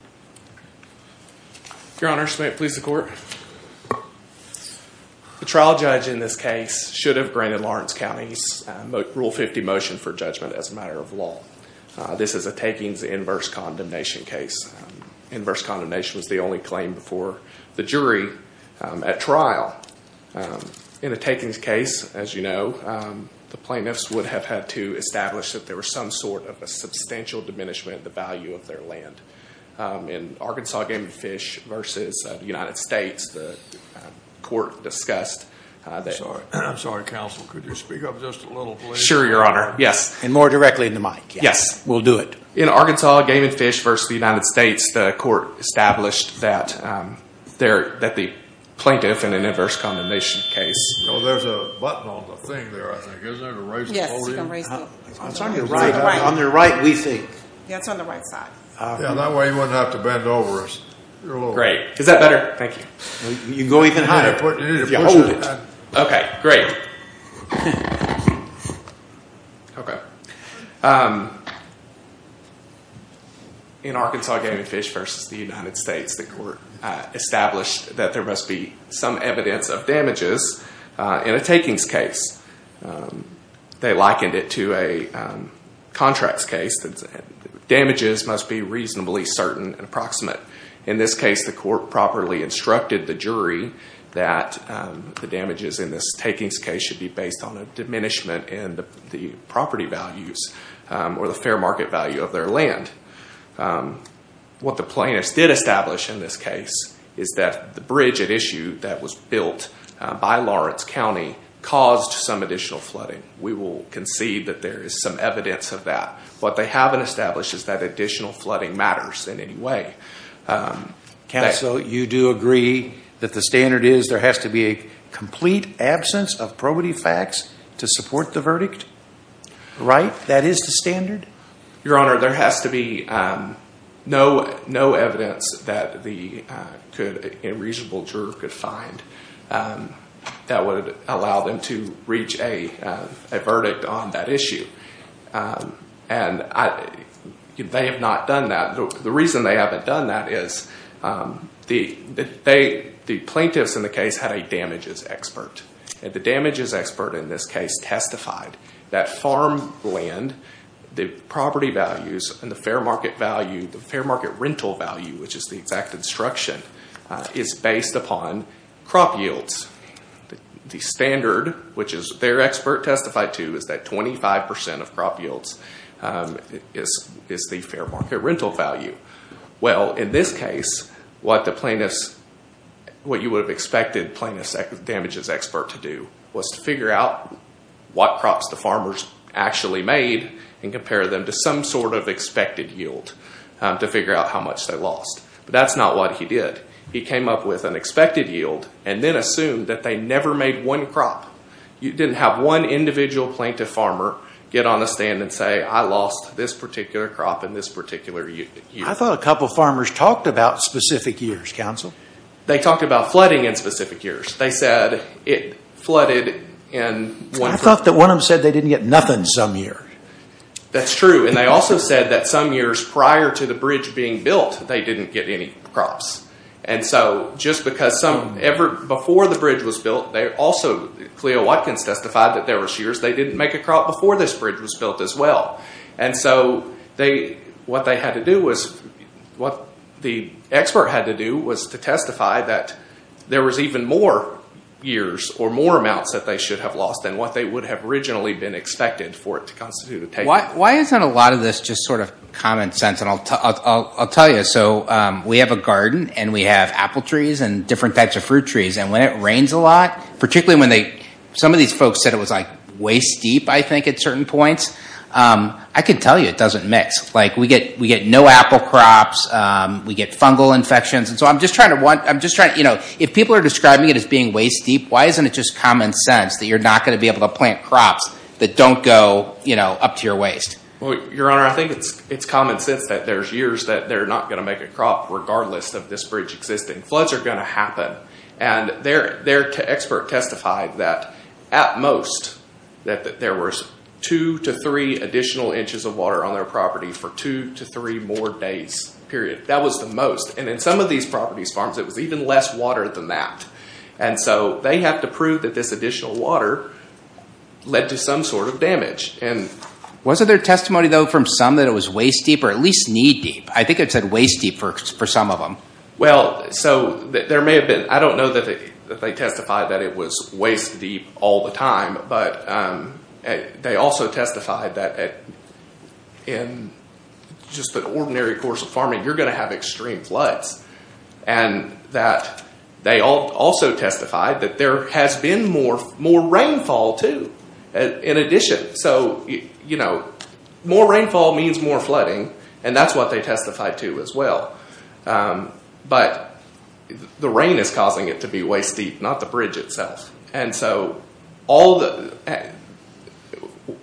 The trial judge in this case should have granted Lawrence County's Rule 50 motion for judgment as a matter of law. This is a takings inverse condemnation case. Inverse condemnation was the only claim before the jury at trial. In a takings case, as you know, the plaintiffs would have had to establish that there was some sort of a substantial diminishment in the value of their land. In Arkansas Game and Fish v. United States, the court established that the plaintiff in Arkansas Game and Fish v. United States established that there must be some evidence of damages in a takings case. They likened it to a contracts case. Damages must be reasonably certain and approximate. In this case, the court properly instructed the jury that the damages in this takings case should be based on a diminishment in the property values or the fair market value of their land. What the plaintiffs did establish in this case is that the bridge at issue that was additional flooding. We will concede that there is some evidence of that. What they haven't established is that additional flooding matters in any way. Counsel, you do agree that the standard is there has to be a complete absence of probity facts to support the verdict, right? That is the standard? Your Honor, there has to be no evidence that a reasonable juror could find that would allow them to reach a verdict on that issue. They have not done that. The reason they haven't done that is the plaintiffs in the case had a damages expert. The damages expert in this case testified that farm land, the property values and the fair market value, the fair market rental value which is the exact instruction, is based upon crop yields. The standard, which their expert testified to, is that 25% of crop yields is the fair market rental value. In this case, what you would have expected the damages expert to do was to figure out what crops the farmers actually made and compare them to some sort of expected yield to figure out how much they lost. That's not what he did. He came up with an expected yield and then assumed that they never made one crop. You didn't have one individual plaintiff farmer get on a stand and say, I lost this particular crop in this particular year. I thought a couple of farmers talked about specific years, counsel. They talked about flooding in specific years. They said it flooded in one particular year. I thought that one of them said they didn't get nothing some year. That's true. They also said that some years prior to the bridge being built, they didn't get any crops. Just because some, before the bridge was built, they also, Cleo Watkins testified that there was years they didn't make a crop before this bridge was built as well. What they had to do was, what the expert had to do was to testify that there was even more years or more amounts that they should have lost than what they would have originally been expected for it to constitute a table. Why isn't a lot of this just sort of common sense? I'll tell you. We have a garden and we have apple trees and different types of fruit trees. When it rains a lot, particularly when they, some of these folks said it was way steep, I think, at certain points. I can tell you it doesn't mix. We get no apple crops. We get fungal infections. If people are describing it as being way steep, why isn't it just common sense that you're not going to be able to plant crops that don't go up to your waist? Your Honor, I think it's common sense that there's years that they're not going to make a crop regardless of this bridge existing. Floods are going to happen. Their expert testified that, at most, that there was two to three additional inches of water on their property for two to three more days, period. That was the most. In some of these properties' farms, it was even less water than that. So they have to prove that this additional water led to some sort of damage. Was there testimony, though, from some that it was waist-deep or at least knee-deep? I think it said waist-deep for some of them. Well, so there may have been. I don't know that they testified that it was waist-deep all the time, but they also testified that in just an ordinary course of farming, you're going to have extreme floods. And that they also testified that there has been more rainfall, too, in addition. So more rainfall means more flooding, and that's what they testified to as well. But the rain is causing it to be waist-deep, not the bridge itself. And so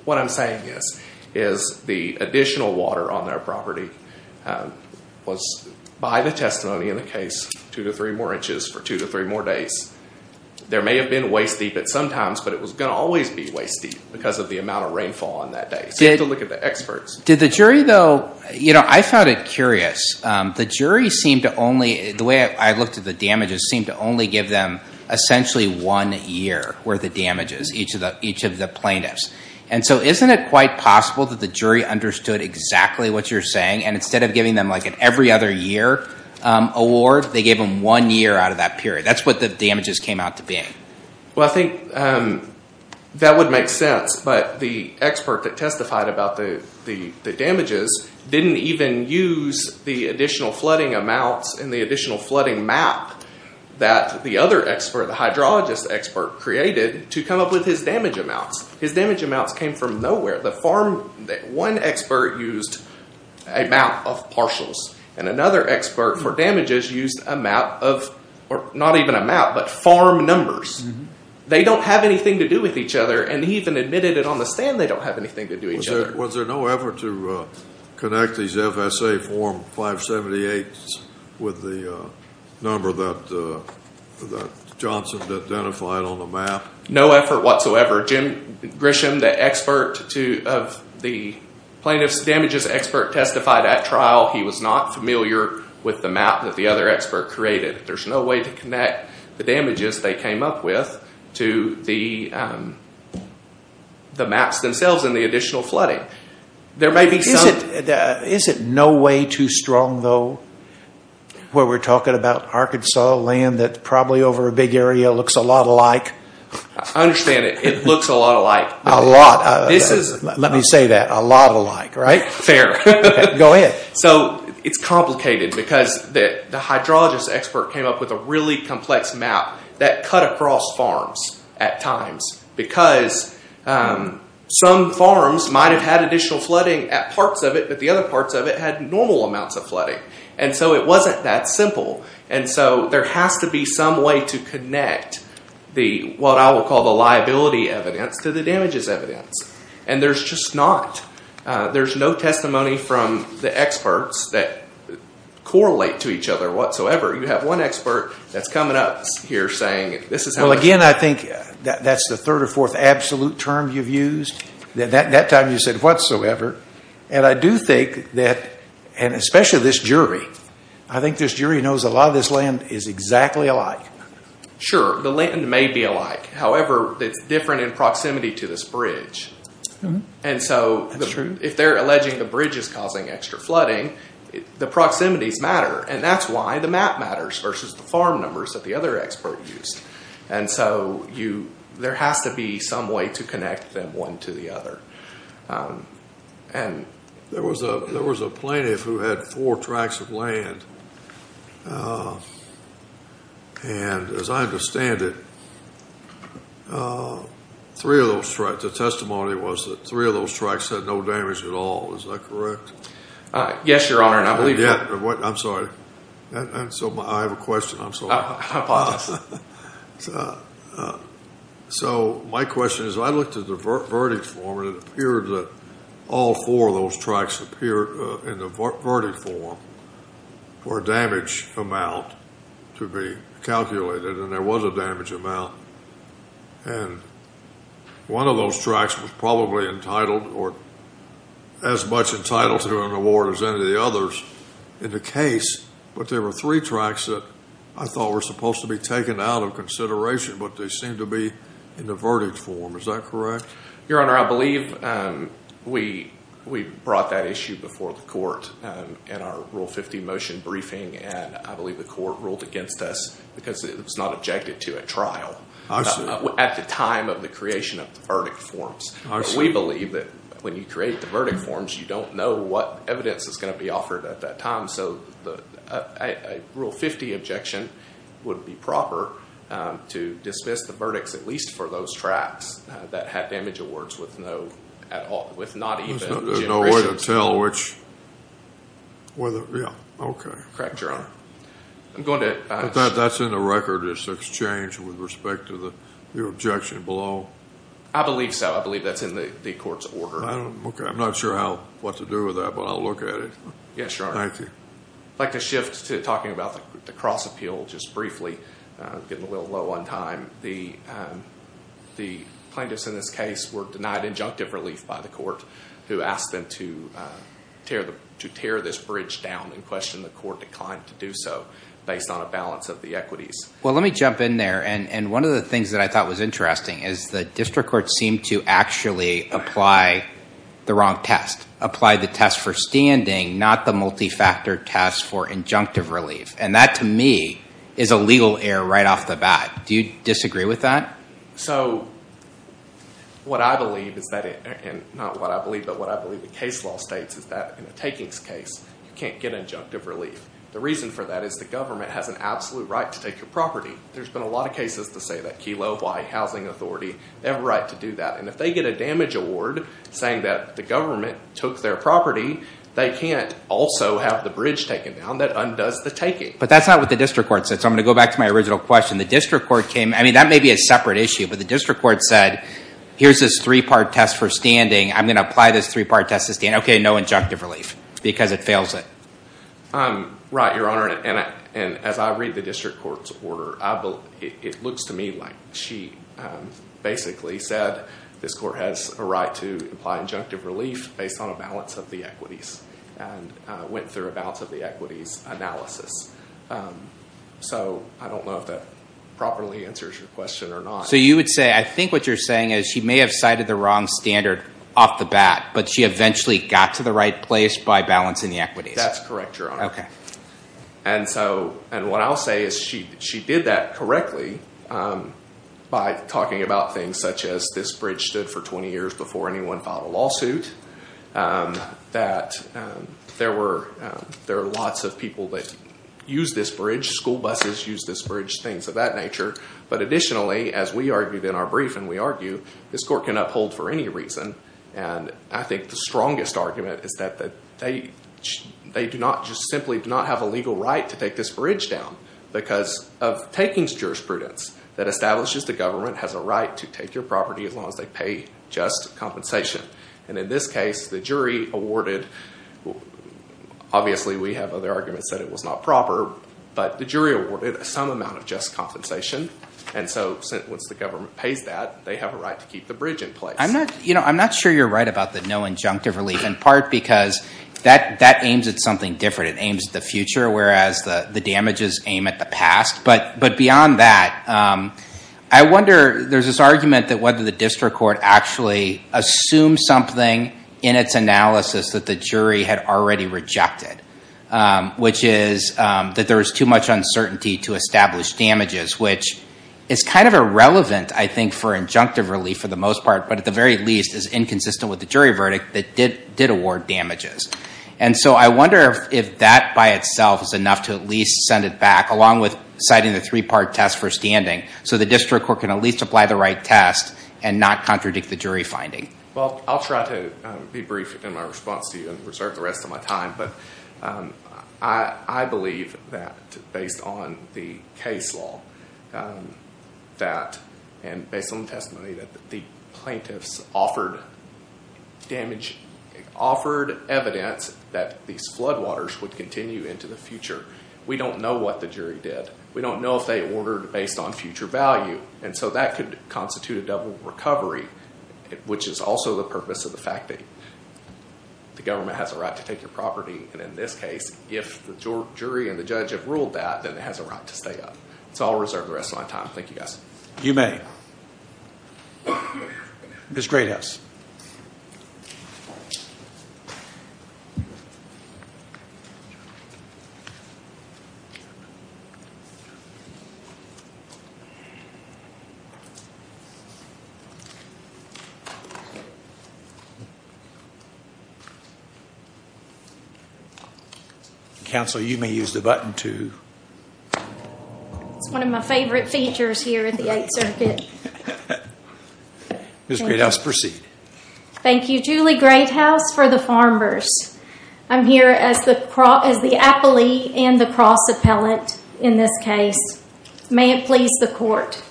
what I'm saying is the additional water on their property was, by the testimony in the case, two to three more inches for two to three more days. There may have been waist-deep at some times, but it was going to always be waist-deep because of the amount of rainfall on that day. So you have to look at the experts. Did the jury, though, you know, I found it curious. The jury seemed to only, the way I looked at the damages, seemed to only give them essentially one year worth of damages, each of the plaintiffs. And so isn't it quite possible that the jury understood exactly what you're saying and instead of giving them, like, an every-other-year award, they gave them one year out of that period. That's what the damages came out to be. Well, I think that would make sense. But the expert that testified about the damages didn't even use the additional flooding amounts and the additional flooding map that the other expert, the hydrologist expert, created to come up with his damage amounts. His damage amounts came from nowhere. The farm, one expert used a map of partials, and another expert for damages used a map of, not even a map, but farm numbers. They don't have anything to do with each other, and he even admitted it on the stand they don't have anything to do with each other. Was there no effort to connect these FSA form 578s with the number that Johnson identified on the map? No effort whatsoever. Jim Grisham, the plaintiff's damages expert, testified at trial. He was not familiar with the map that the other expert created. There's no way to connect the damages they came up with to the maps themselves and the additional flooding. There may be some... Is it no way too strong, though, where we're talking about Arkansas land that probably over a big area looks a lot alike? I understand it. It looks a lot alike. A lot. This is... Let me say that. A lot alike, right? Fair. Go ahead. So, it's complicated because the hydrologist expert came up with a really complex map that cut across farms at times because some farms might have had additional flooding at parts of it, but the other parts of it had normal amounts of flooding. And so it wasn't that simple. And so there has to be some way to connect the, what I will call the liability evidence, to the damages evidence. And there's just not. There's no testimony from the experts that correlate to each other whatsoever. You have one expert that's coming up here saying this is how it's... Well, again, I think that's the third or fourth absolute term you've used. That time you said whatsoever. And I do think that, and especially this jury. I think this jury knows a lot of this land is exactly alike. Sure. The land may be alike. However, it's different in proximity to this bridge. And so if they're alleging the bridge is causing extra flooding, the proximities matter. And that's why the map matters versus the farm numbers that the other expert used. And so there has to be some way to connect them one to the other. There was a plaintiff who had four tracts of land, and as I understand it, three of those tracts, the testimony was that three of those tracts had no damage at all. Is that correct? Yes, Your Honor. And I believe... Yeah. I'm sorry. I have a question. I'm sorry. I apologize. So my question is, I looked at the verdict form, and it appeared that all four of those tracts appeared in the verdict form for a damage amount to be calculated, and there was a damage amount, and one of those tracts was probably entitled or as much entitled to an award as any of the others in the case, but there were three tracts that I thought were supposed to be taken out of consideration, but they seem to be in the verdict form. Is that correct? Your Honor, I believe we brought that issue before the court in our Rule 50 motion briefing, and I believe the court ruled against us because it was not objected to at trial at the time of the creation of the verdict forms. We believe that when you create the verdict forms, you don't know what evidence is going to be offered at that time. So a Rule 50 objection would be proper to dismiss the verdicts, at least for those tracts that had damage awards with not even generations. There's no way to tell which. Yeah. Okay. Correct, Your Honor. I'm going to- That's in the record. It's exchanged with respect to the objection below? I believe so. I believe that's in the court's order. Okay. I'm not sure what to do with that, but I'll look at it. Yes, Your Honor. Thank you. I'd like to shift to talking about the cross-appeal just briefly, getting a little low on time. The plaintiffs in this case were denied injunctive relief by the court who asked them to tear this bridge down and questioned the court decline to do so based on a balance of the equities. Well, let me jump in there, and one of the things that I thought was interesting is the district court seemed to actually apply the wrong test, apply the test for standing, not the multi-factor test for injunctive relief, and that, to me, is a legal error right off the bat. Do you disagree with that? What I believe is that, and not what I believe, but what I believe the case law states is that in a takings case, you can't get injunctive relief. The reason for that is the government has an absolute right to take your property. There's been a lot of cases to say that, Key Lowe, Hawaii Housing Authority, they have a right to do that, and if they get a damage award saying that the government took their property, they can't also have the bridge taken down. That undoes the taking. But that's not what the district court said, so I'm going to go back to my original question. The district court came, I mean, that may be a separate issue, but the district court said here's this three-part test for standing. I'm going to apply this three-part test to stand. Okay, no injunctive relief because it fails it. Right, Your Honor, and as I read the district court's order, it looks to me like she basically said this court has a right to apply injunctive relief based on a balance of the equities and went through a balance of the equities analysis. So I don't know if that properly answers your question or not. So you would say, I think what you're saying is she may have cited the wrong standard off the bat, but she eventually got to the right place by balancing the equities. That's correct, Your Honor. Okay. And so, and what I'll say is she did that correctly by talking about things such as this bridge stood for 20 years before anyone filed a lawsuit, that there were lots of people that used this bridge, school buses used this bridge, things of that nature. But additionally, as we argued in our brief and we argue, this court can uphold for any And I think the strongest argument is that they do not, just simply do not have a legal right to take this bridge down because of taking jurisprudence that establishes the government has a right to take your property as long as they pay just compensation. And in this case, the jury awarded, obviously we have other arguments that it was not proper, but the jury awarded some amount of just compensation. And so once the government pays that, they have a right to keep the bridge in place. I'm not sure you're right about the no injunctive relief in part because that aims at something different. It aims at the future, whereas the damages aim at the past. But beyond that, I wonder, there's this argument that whether the district court actually assumed something in its analysis that the jury had already rejected, which is that there is too much uncertainty to establish damages, which is kind of irrelevant, I think, for injunctive relief for the most part, but at the very least is inconsistent with the jury verdict that did award damages. And so I wonder if that by itself is enough to at least send it back, along with citing the three-part test for standing, so the district court can at least apply the right test and not contradict the jury finding. Well, I'll try to be brief in my response to you and reserve the rest of my time. But I believe that based on the case law and based on the testimony that the plaintiffs offered evidence that these floodwaters would continue into the future. We don't know what the jury did. We don't know if they ordered based on future value. And so that could constitute a double recovery, which is also the purpose of the fact that the government has a right to take your property, and in this case, if the jury and the judge have ruled that, then it has a right to stay up. So I'll reserve the rest of my time. Thank you, guys. You may. Ms. Greathouse. Counsel, you may use the button, too. It's one of my favorite features here at the Eighth Circuit. Ms. Greathouse, proceed. Thank you, Julie Greathouse, for the Farmers. I'm here as the appellee and the cross-appellant in this case. May it please the court.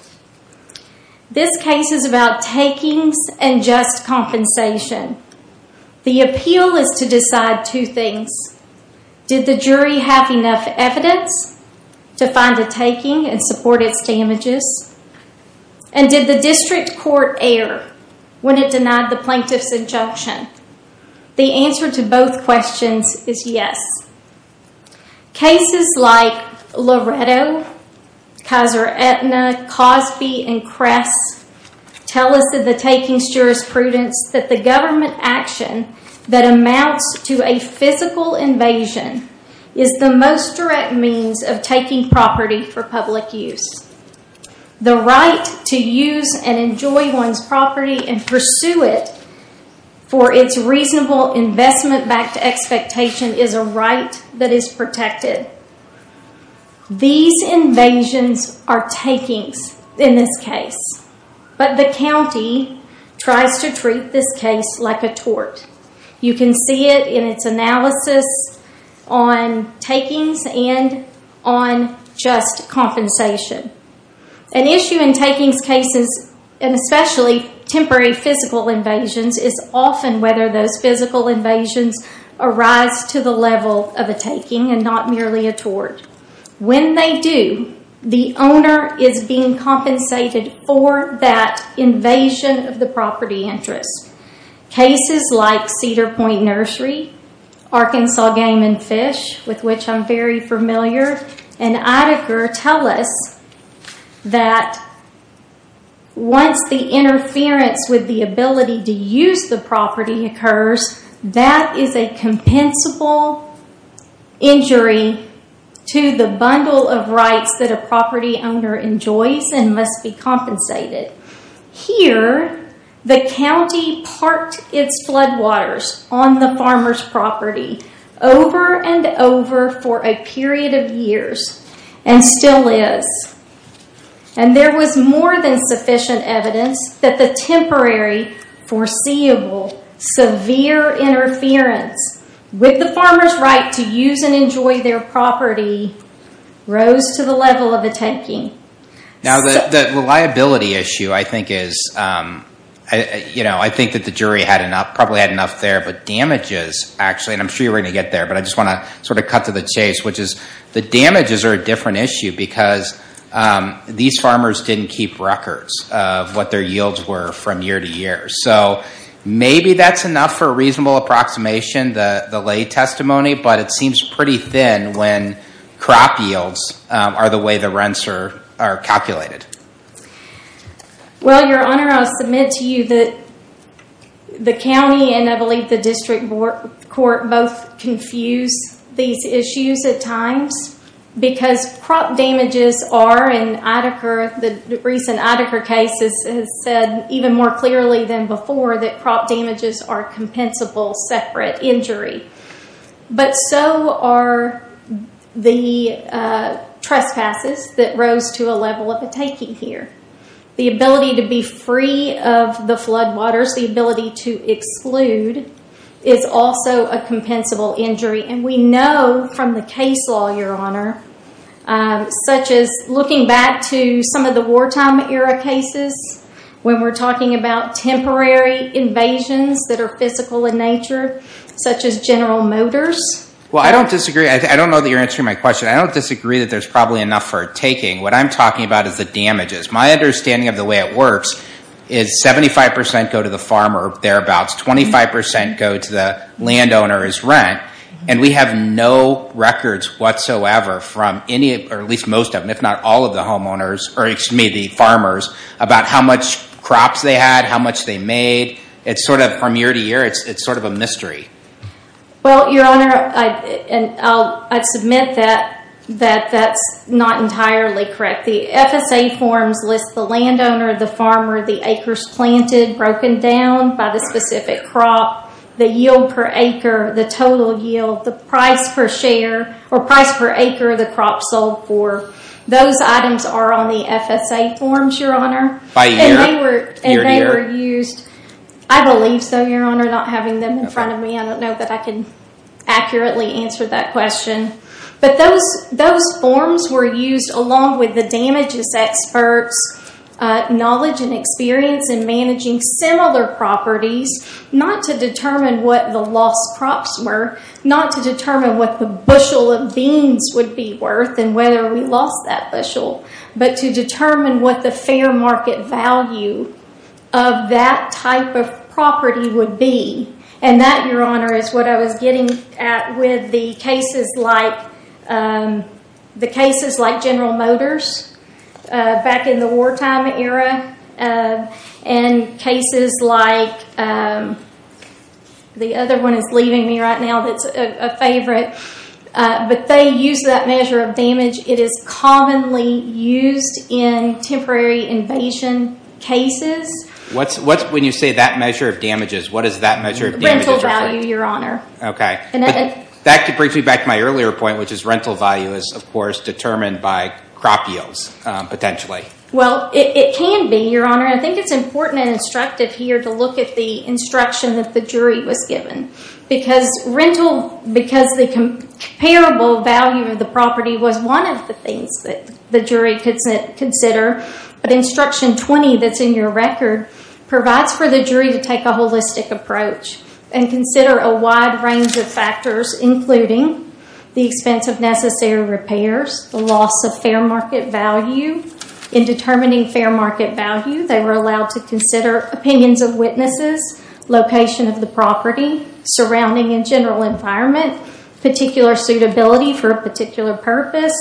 This case is about takings and just compensation. The appeal is to decide two things. Did the jury have enough evidence to find a taking and support its damages? And did the district court err when it denied the plaintiff's injunction? The answer to both questions is yes. Cases like Loretto, Kaiser Aetna, Cosby, and Kress tell us that the takings jurisprudence that the government action that amounts to a physical invasion is the most direct means of taking property for public use. The right to use and enjoy one's property and pursue it for its reasonable investment back to expectation is a right that is protected. These invasions are takings in this case, but the county tries to treat this case like a tort. You can see it in its analysis on takings and on just compensation. An issue in takings cases, and especially temporary physical invasions, is often whether those physical invasions arise to the level of a taking and not merely a tort. When they do, the owner is being compensated for that invasion of the property interest. Cases like Cedar Point Nursery, Arkansas Game and Fish, with which I'm very familiar, and others, that is a compensable injury to the bundle of rights that a property owner enjoys and must be compensated. Here the county parked its floodwaters on the farmer's property over and over for a period of years and still is. There was more than sufficient evidence that the temporary, foreseeable, severe interference with the farmer's right to use and enjoy their property rose to the level of a taking. Now the liability issue, I think that the jury probably had enough there, but damages actually, and I'm sure you were going to get there, but I just want to cut to the chase, which is the damages are a different issue because these farmers didn't keep records of what their yields were from year to year. Maybe that's enough for a reasonable approximation, the lay testimony, but it seems pretty thin when crop yields are the way the rents are calculated. Well, your honor, I'll submit to you that the county and I believe the district court both confuse these issues at times because crop damages are, and the recent Idacare case has said even more clearly than before that crop damages are compensable separate injury, but so are the trespasses that rose to a level of a taking here. The ability to be free of the floodwaters, the ability to exclude, is also a compensable injury, and we know from the case law, your honor, such as looking back to some of the wartime era cases when we're talking about temporary invasions that are physical in nature, such as General Motors. Well, I don't disagree. I don't know that you're answering my question. I don't disagree that there's probably enough for a taking. What I'm talking about is the damages. My understanding of the way it works is 75% go to the farmer or thereabouts, 25% go to the landowner's rent, and we have no records whatsoever from any, or at least most of them, if not all of the homeowners, or excuse me, the farmers, about how much crops they had, how much they made. It's sort of from year to year. It's sort of a mystery. Well, your honor, I'd submit that that's not entirely correct. The FSA forms list the landowner, the farmer, the acres planted, broken down by the specific crop, the yield per acre, the total yield, the price per share, or price per acre the crop sold for. Those items are on the FSA forms, your honor. By year? Year to year? And they were used. I believe so, your honor, not having them in front of me, I don't know that I can accurately answer that question. But those forms were used along with the damages experts, knowledge and experience in managing similar properties, not to determine what the lost crops were, not to determine what the bushel of beans would be worth and whether we lost that bushel, but to determine what the fair market value of that type of property would be. And that, your honor, is what I was getting at with the cases like General Motors back in the wartime era and cases like, the other one is leaving me right now that's a favorite, but they use that measure of damage. It is commonly used in temporary invasion cases. What's, when you say that measure of damages, what is that measure of damages? Rental value, your honor. Okay. That brings me back to my earlier point, which is rental value is, of course, determined by crop yields, potentially. Well, it can be, your honor, and I think it's important and instructive here to look at the instruction that the jury was given. Because rental, because the comparable value of the property was one of the things that the jury could consider, but instruction 20 that's in your record provides for the jury to take a holistic approach and consider a wide range of factors, including the expense of necessary repairs, the loss of fair market value. In determining fair market value, they were allowed to consider opinions of witnesses, location of the property, surrounding and general environment, particular suitability for a particular purpose,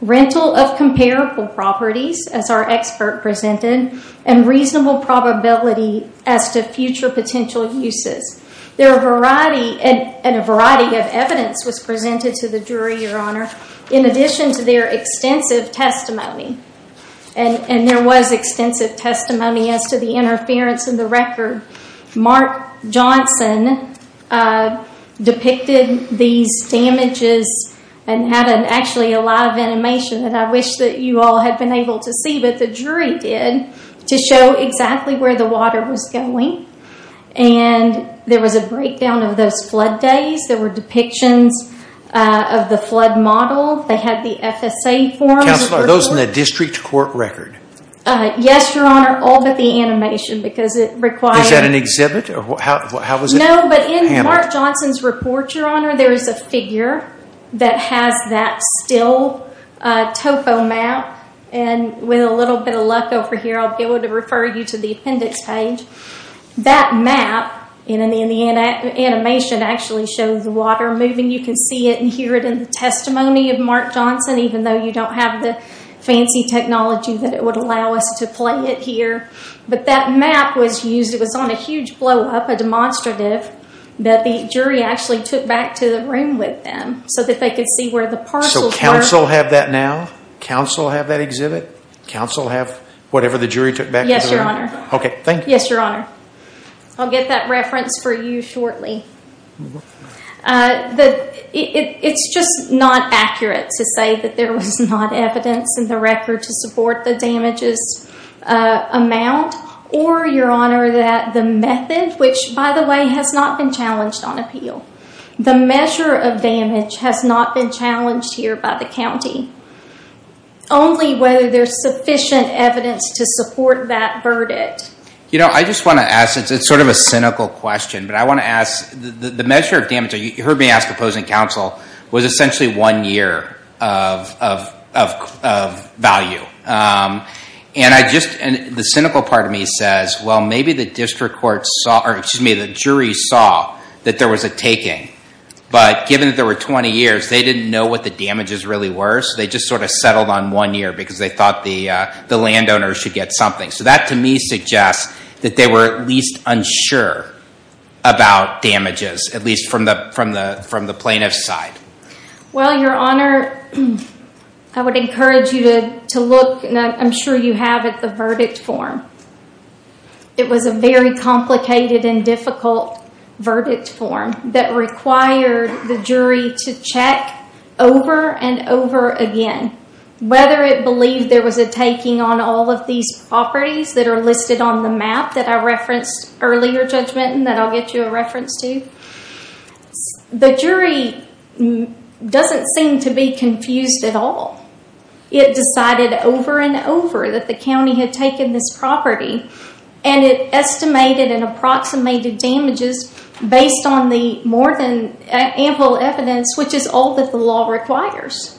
rental of comparable properties, as our expert presented, and reasonable probability as to future potential uses. There are a variety, and a variety of evidence was presented to the jury, your honor, in addition to their extensive testimony. There was extensive testimony as to the interference in the record. Mark Johnson depicted these damages and had actually a live animation that I wish that you all had been able to see, but the jury did, to show exactly where the water was going. There was a breakdown of those flood days. There were depictions of the flood model. They had the FSA forms. Counselor, are those in the district court record? Yes, your honor, all but the animation, because it requires- Was that an exhibit? How was it handled? No, but in Mark Johnson's report, your honor, there is a figure that has that still topo map. With a little bit of luck over here, I'll be able to refer you to the appendix page. That map in the animation actually shows the water moving. You can see it and hear it in the testimony of Mark Johnson, even though you don't have the fancy technology that would allow us to play it here. That map was used. It was on a huge blow up, a demonstrative, that the jury actually took back to the room with them so that they could see where the parcels were. Counsel have that now? Counsel have that exhibit? Counsel have whatever the jury took back to the room? Yes, your honor. Okay, thank you. Yes, your honor. I'll get that reference for you shortly. It's just not accurate to say that there was not evidence in the record to support the damages amount, or your honor, that the method, which by the way, has not been challenged on appeal. The measure of damage has not been challenged here by the county. Only whether there's sufficient evidence to support that verdict. You know, I just want to ask, it's sort of a cynical question, but I want to ask, the cynical part of me says, well, maybe the district court saw, or excuse me, the jury saw that there was a taking, but given that there were 20 years, they didn't know what the damages really were, so they just sort of settled on one year because they thought the landowners should get something. So that to me suggests that they were at least unsure about damages, at least from the plaintiff's side. Well, your honor, I would encourage you to look, and I'm sure you have, at the verdict form. It was a very complicated and difficult verdict form that required the jury to check over and over again, whether it believed there was a taking on all of these properties that are listed on the map that I referenced earlier, Judge Minton, that I'll get you a reference to. The jury doesn't seem to be confused at all. It decided over and over that the county had taken this property and it estimated and approximated damages based on the more than ample evidence, which is all that the law requires.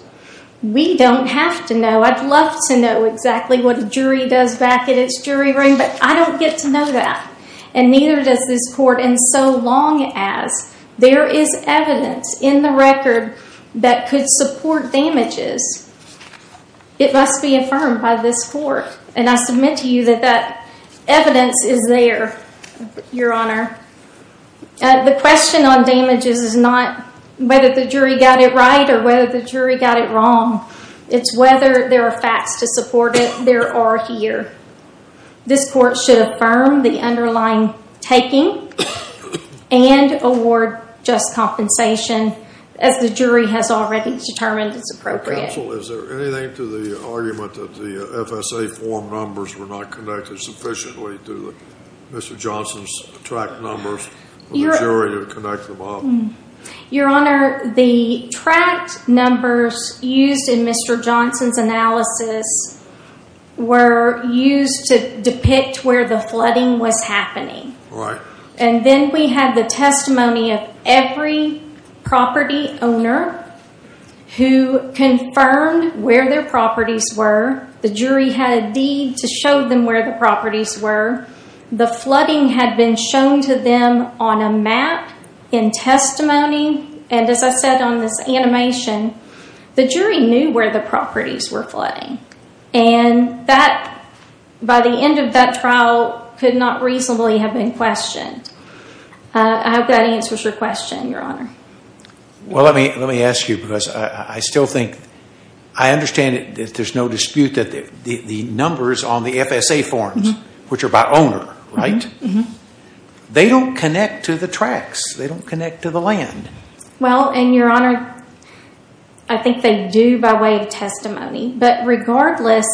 We don't have to know. I'd love to know exactly what a jury does back at its jury ring, but I don't get to know that. And neither does this court, and so long as there is evidence in the record that could support damages, it must be affirmed by this court. And I submit to you that that evidence is there, your honor. The question on damages is not whether the jury got it right or whether the jury got it wrong. It's whether there are facts to support it. There are here. This court should affirm the underlying taking and award just compensation as the jury has already determined is appropriate. Counsel, is there anything to the argument that the FSA form numbers were not connected sufficiently to Mr. Johnson's tract numbers for the jury to connect them up? Your honor, the tract numbers used in Mr. Johnson's analysis were used to depict where the flooding was happening. And then we had the testimony of every property owner who confirmed where their properties were. The jury had a deed to show them where the properties were. The flooding had been shown to them on a map in testimony, and as I said on this animation, the jury knew where the properties were flooding. And that, by the end of that trial, could not reasonably have been questioned. I hope that answers your question, your honor. Well let me ask you, because I still think, I understand that there's no dispute that the numbers on the FSA forms, which are by owner, right? They don't connect to the tracts. They don't connect to the land. Well, and your honor, I think they do by way of testimony. But regardless,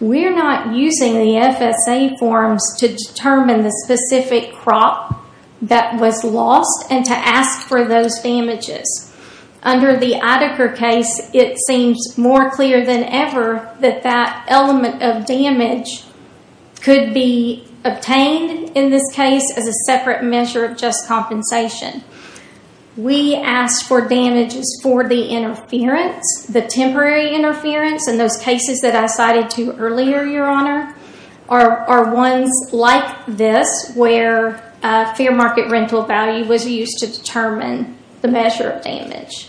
we're not using the FSA forms to determine the specific crop that was lost and to ask for those damages. Under the Idaker case, it seems more clear than ever that that element of damage could be obtained in this case as a separate measure of just compensation. We asked for damages for the interference, the temporary interference, and those cases that I cited to earlier, your honor, are ones like this where fair market rental value was used to determine the measure of damage.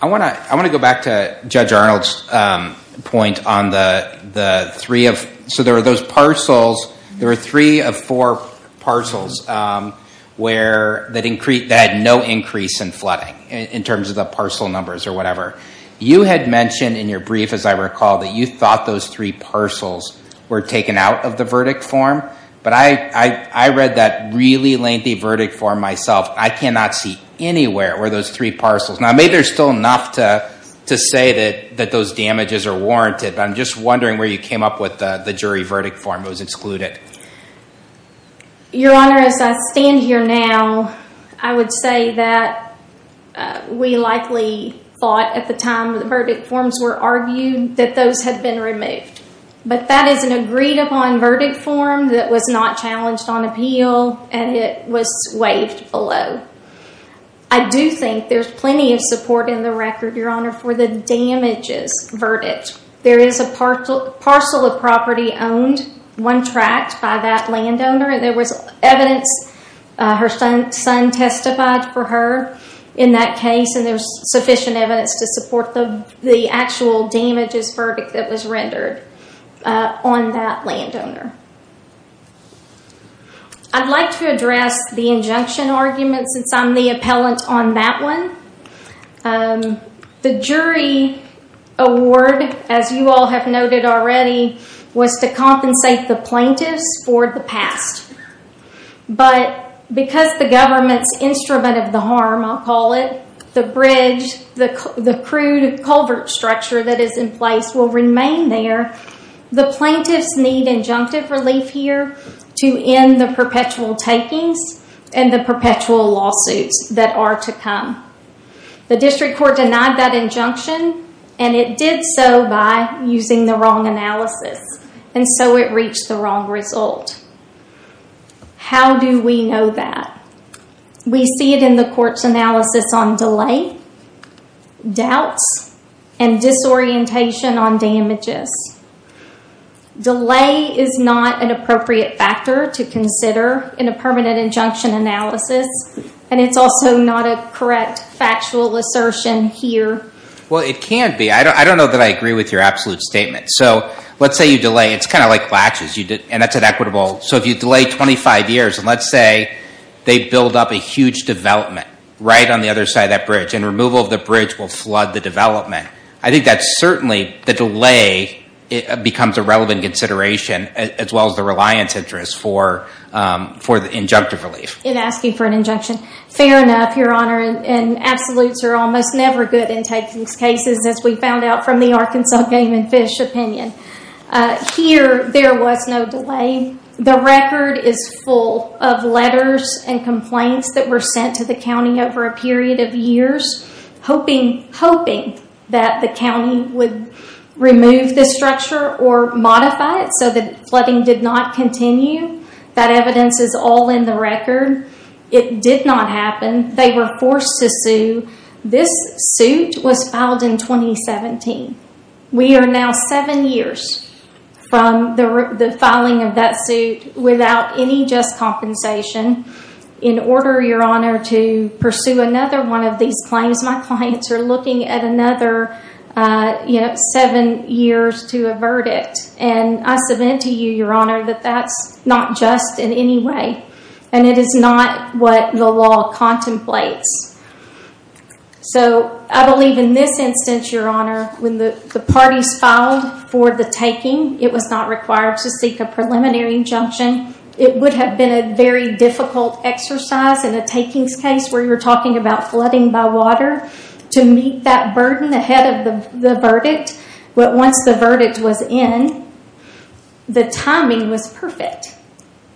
I want to go back to Judge Arnold's point on the three of, so there were those parcels, there were three of four parcels that had no increase in flooding in terms of the parcel numbers or whatever. You had mentioned in your brief, as I recall, that you thought those three parcels were taken out of the verdict form. But I read that really lengthy verdict form myself. I cannot see anywhere where those three parcels, now maybe there's still enough to say that those damages are warranted, but I'm just wondering where you came up with the jury verdict form that was excluded. Your honor, as I stand here now, I would say that we likely thought at the time the verdict forms were argued that those had been removed. But that is an agreed upon verdict form that was not challenged on appeal and it was waived below. I do think there's plenty of support in the record, your honor, for the damages verdict. There is a parcel of property owned, one tract, by that landowner and there was evidence, her son testified for her in that case and there's sufficient evidence to support the actual damages verdict that was rendered on that landowner. I'd like to address the injunction argument since I'm the appellant on that one. The jury award, as you all have noted already, was to compensate the plaintiffs for the past. But because the government's instrument of the harm, I'll call it, the bridge, the crude culvert structure that is in place will remain there. The plaintiffs need injunctive relief here to end the perpetual takings and the perpetual lawsuits that are to come. The district court denied that injunction and it did so by using the wrong analysis and so it reached the wrong result. How do we know that? We see it in the court's analysis on delay, doubts, and disorientation on damages. Delay is not an appropriate factor to consider in a permanent injunction analysis and it's also not a correct factual assertion here. Well, it can be. I don't know that I agree with your absolute statement. Let's say you delay. It's kind of like latches and that's an equitable... If you delay 25 years and let's say they've built up a huge development right on the other side of that bridge and removal of the bridge will flood the development, I think that's certainly the delay becomes a relevant consideration as well as the reliance interest for the injunctive relief. In asking for an injunction. Fair enough, Your Honor, and absolutes are almost never good in taking cases as we found out from the Arkansas Game and Fish opinion. Here there was no delay. The record is full of letters and complaints that were sent to the county over a period of years hoping that the county would remove the structure or modify it so that flooding did not continue. That evidence is all in the record. It did not happen. They were forced to sue. This suit was filed in 2017. We are now seven years from the filing of that suit without any just compensation in order, Your Honor, to pursue another one of these claims. My clients are looking at another seven years to a verdict and I submit to you, Your Honor, that that's not just in any way and it is not what the law contemplates. I believe in this instance, Your Honor, when the parties filed for the taking, it was not required to seek a preliminary injunction. It would have been a very difficult exercise in a takings case where you're talking about flooding by water to meet that burden ahead of the verdict. Once the verdict was in, the timing was perfect.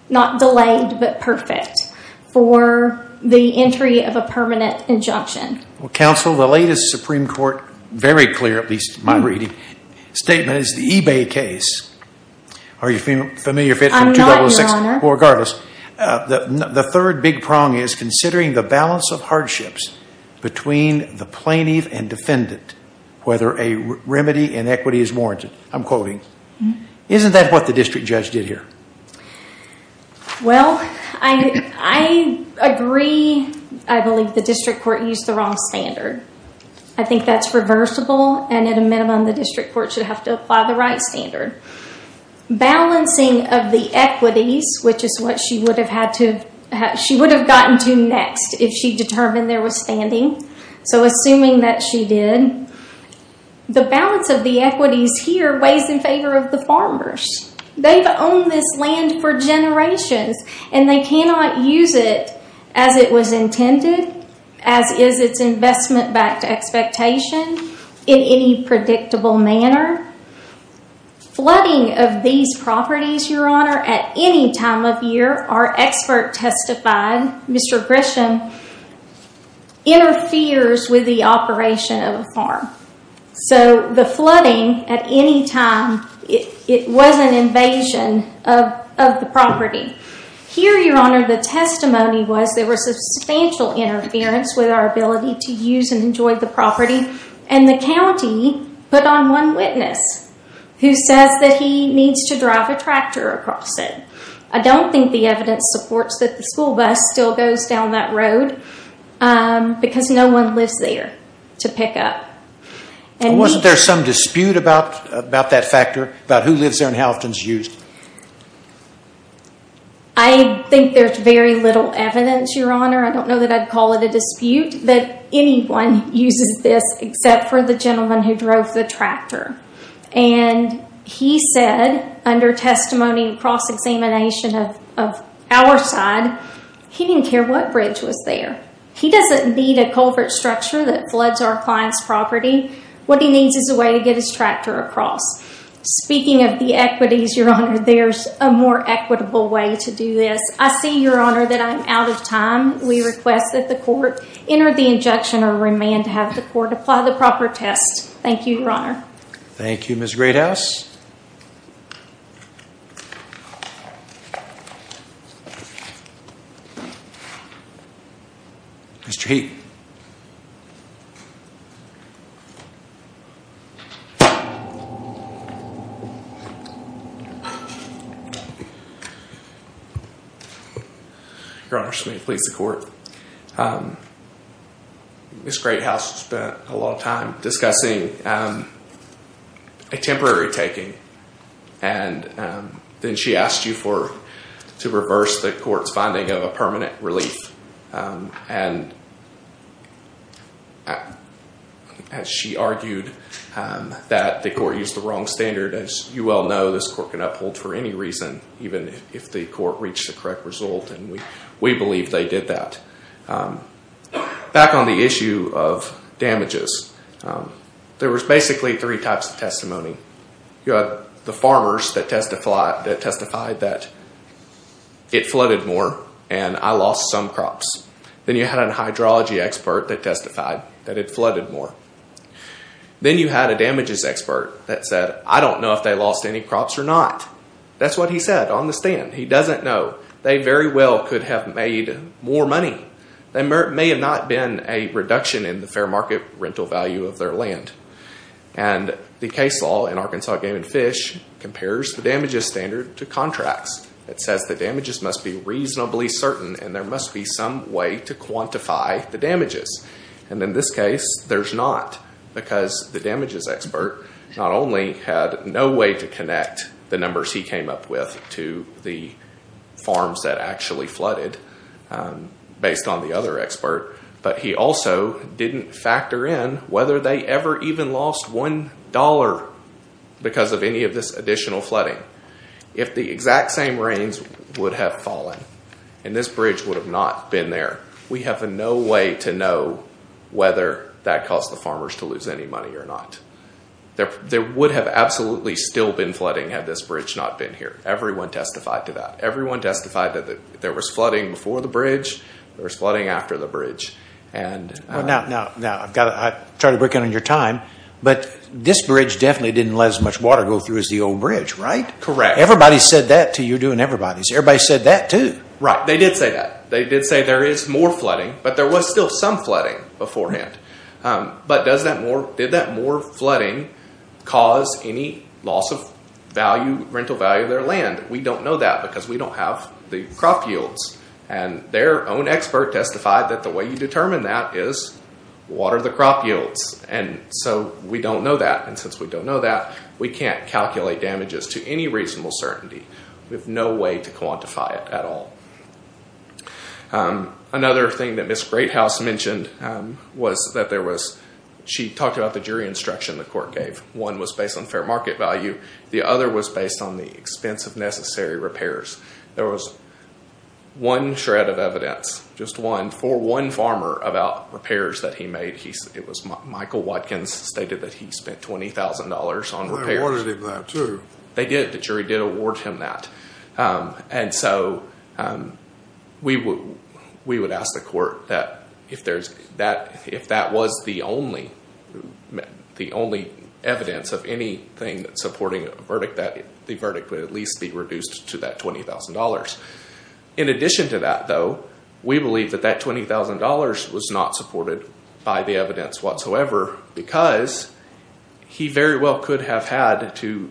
Not delayed, but perfect for the entry of a permanent injunction. Well, counsel, the latest Supreme Court, very clear at least in my reading, statement is the eBay case. Are you familiar with it from 2006? I'm not, Your Honor. Well, regardless, the third big prong is considering the balance of hardships between the plaintiff and defendant whether a remedy in equity is warranted. I'm quoting. Isn't that what the district judge did here? Well, I agree. I believe the district court used the wrong standard. I think that's reversible and at a minimum, the district court should have to apply the right standard. Balancing of the equities, which is what she would have gotten to next if she determined there was standing. So assuming that she did, the balance of the equities here weighs in favor of the farmers. They've owned this land for generations and they cannot use it as it was intended, as is its investment-backed expectation in any predictable manner. Flooding of these properties, Your Honor, at any time of year, our expert testified, Mr. Grisham, interferes with the operation of a farm. So the flooding at any time, it was an invasion of the property. Here, Your Honor, the testimony was there was substantial interference with our ability to use and enjoy the property and the county put on one witness who says that he needs to drive a tractor across it. I don't think the evidence supports that the school bus still goes down that road because no one lives there to pick up. Wasn't there some dispute about that factor, about who lives there and how often it's used? I think there's very little evidence, Your Honor. I don't know that I'd call it a dispute that anyone uses this except for the gentleman who drove the tractor. And he said, under testimony and cross-examination of our side, he didn't care what bridge was there. He doesn't need a culvert structure that floods our client's property. What he needs is a way to get his tractor across. Speaking of the equities, Your Honor, there's a more equitable way to do this. I see, Your Honor, that I'm out of time. We request that the court enter the injunction or remand to have the court apply the proper test. Thank you, Your Honor. Thank you, Ms. Greathouse. Mr. Heap. Your Honor, it's me, the police, the court. Ms. Greathouse spent a lot of time discussing a temporary taking, and then she asked you to reverse the court's finding of a permanent relief, and she argued that the court used the wrong standard. As you well know, this court can uphold for any reason, even if the court reached the Back on the issue of damages, there was basically three types of testimony. You had the farmers that testified that it flooded more and I lost some crops. Then you had a hydrology expert that testified that it flooded more. Then you had a damages expert that said, I don't know if they lost any crops or not. That's what he said on the stand. He doesn't know. They very well could have made more money. There may have not been a reduction in the fair market rental value of their land. The case law in Arkansas Game and Fish compares the damages standard to contracts. It says the damages must be reasonably certain and there must be some way to quantify the damages. In this case, there's not because the damages expert not only had no way to connect the farms that actually flooded based on the other expert, but he also didn't factor in whether they ever even lost one dollar because of any of this additional flooding. If the exact same rains would have fallen and this bridge would have not been there, we have no way to know whether that caused the farmers to lose any money or not. There would have absolutely still been flooding had this bridge not been here. Everyone testified to that. Everyone testified that there was flooding before the bridge. There was flooding after the bridge. I'm trying to break in on your time, but this bridge definitely didn't let as much water go through as the old bridge, right? Correct. Everybody said that to you doing everybody's. Everybody said that too. Right. They did say that. They did say there is more flooding, but there was still some flooding beforehand. Did that more flooding cause any loss of rental value of their land? We don't know that because we don't have the crop yields. Their own expert testified that the way you determine that is water the crop yields, and so we don't know that. Since we don't know that, we can't calculate damages to any reasonable certainty. We have no way to quantify it at all. Another thing that Ms. Greathouse mentioned was that she talked about the jury instruction the court gave. One was based on fair market value. The other was based on the expense of necessary repairs. There was one shred of evidence, just one, for one farmer about repairs that he made. It was Michael Watkins stated that he spent $20,000 on repairs. They awarded him that too. They did. The jury did award him that. We would ask the court that if that was the only evidence of anything supporting a verdict, that the verdict would at least be reduced to that $20,000. In addition to that, though, we believe that that $20,000 was not supported by the evidence whatsoever because he very well could have had to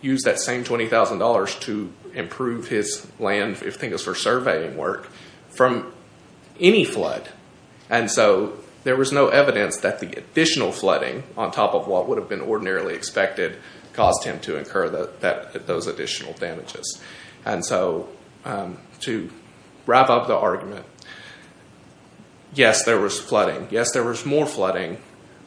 use that same $20,000 to improve his land, if things were surveying work, from any flood. There was no evidence that the additional flooding, on top of what would have been ordinarily expected, caused him to incur those additional damages. To wrap up the argument, yes, there was flooding. Yes, there was more flooding,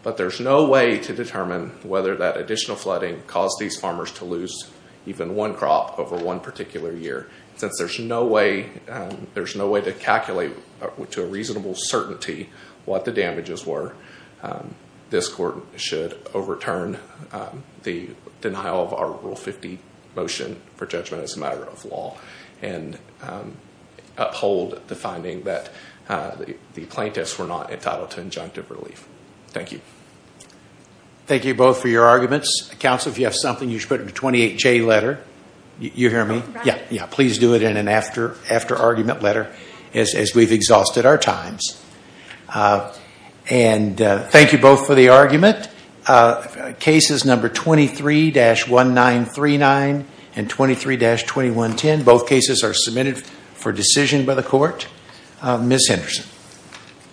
but there's no way to determine whether that additional flooding caused these farmers to lose even one crop over one particular year. Since there's no way to calculate to a reasonable certainty what the damages were, this court should overturn the denial of Article 50 motion for judgment as a matter of law and uphold the finding that the plaintiffs were not entitled to injunctive relief. Thank you. Thank you both for your arguments. Counsel, if you have something, you should put it in a 28-J letter. You hear me? Yes. Please do it in an after-argument letter, as we've exhausted our times. Thank you both for the argument. Cases number 23-1939 and 23-2110, both cases are submitted for decision by the court. Ms. Henderson.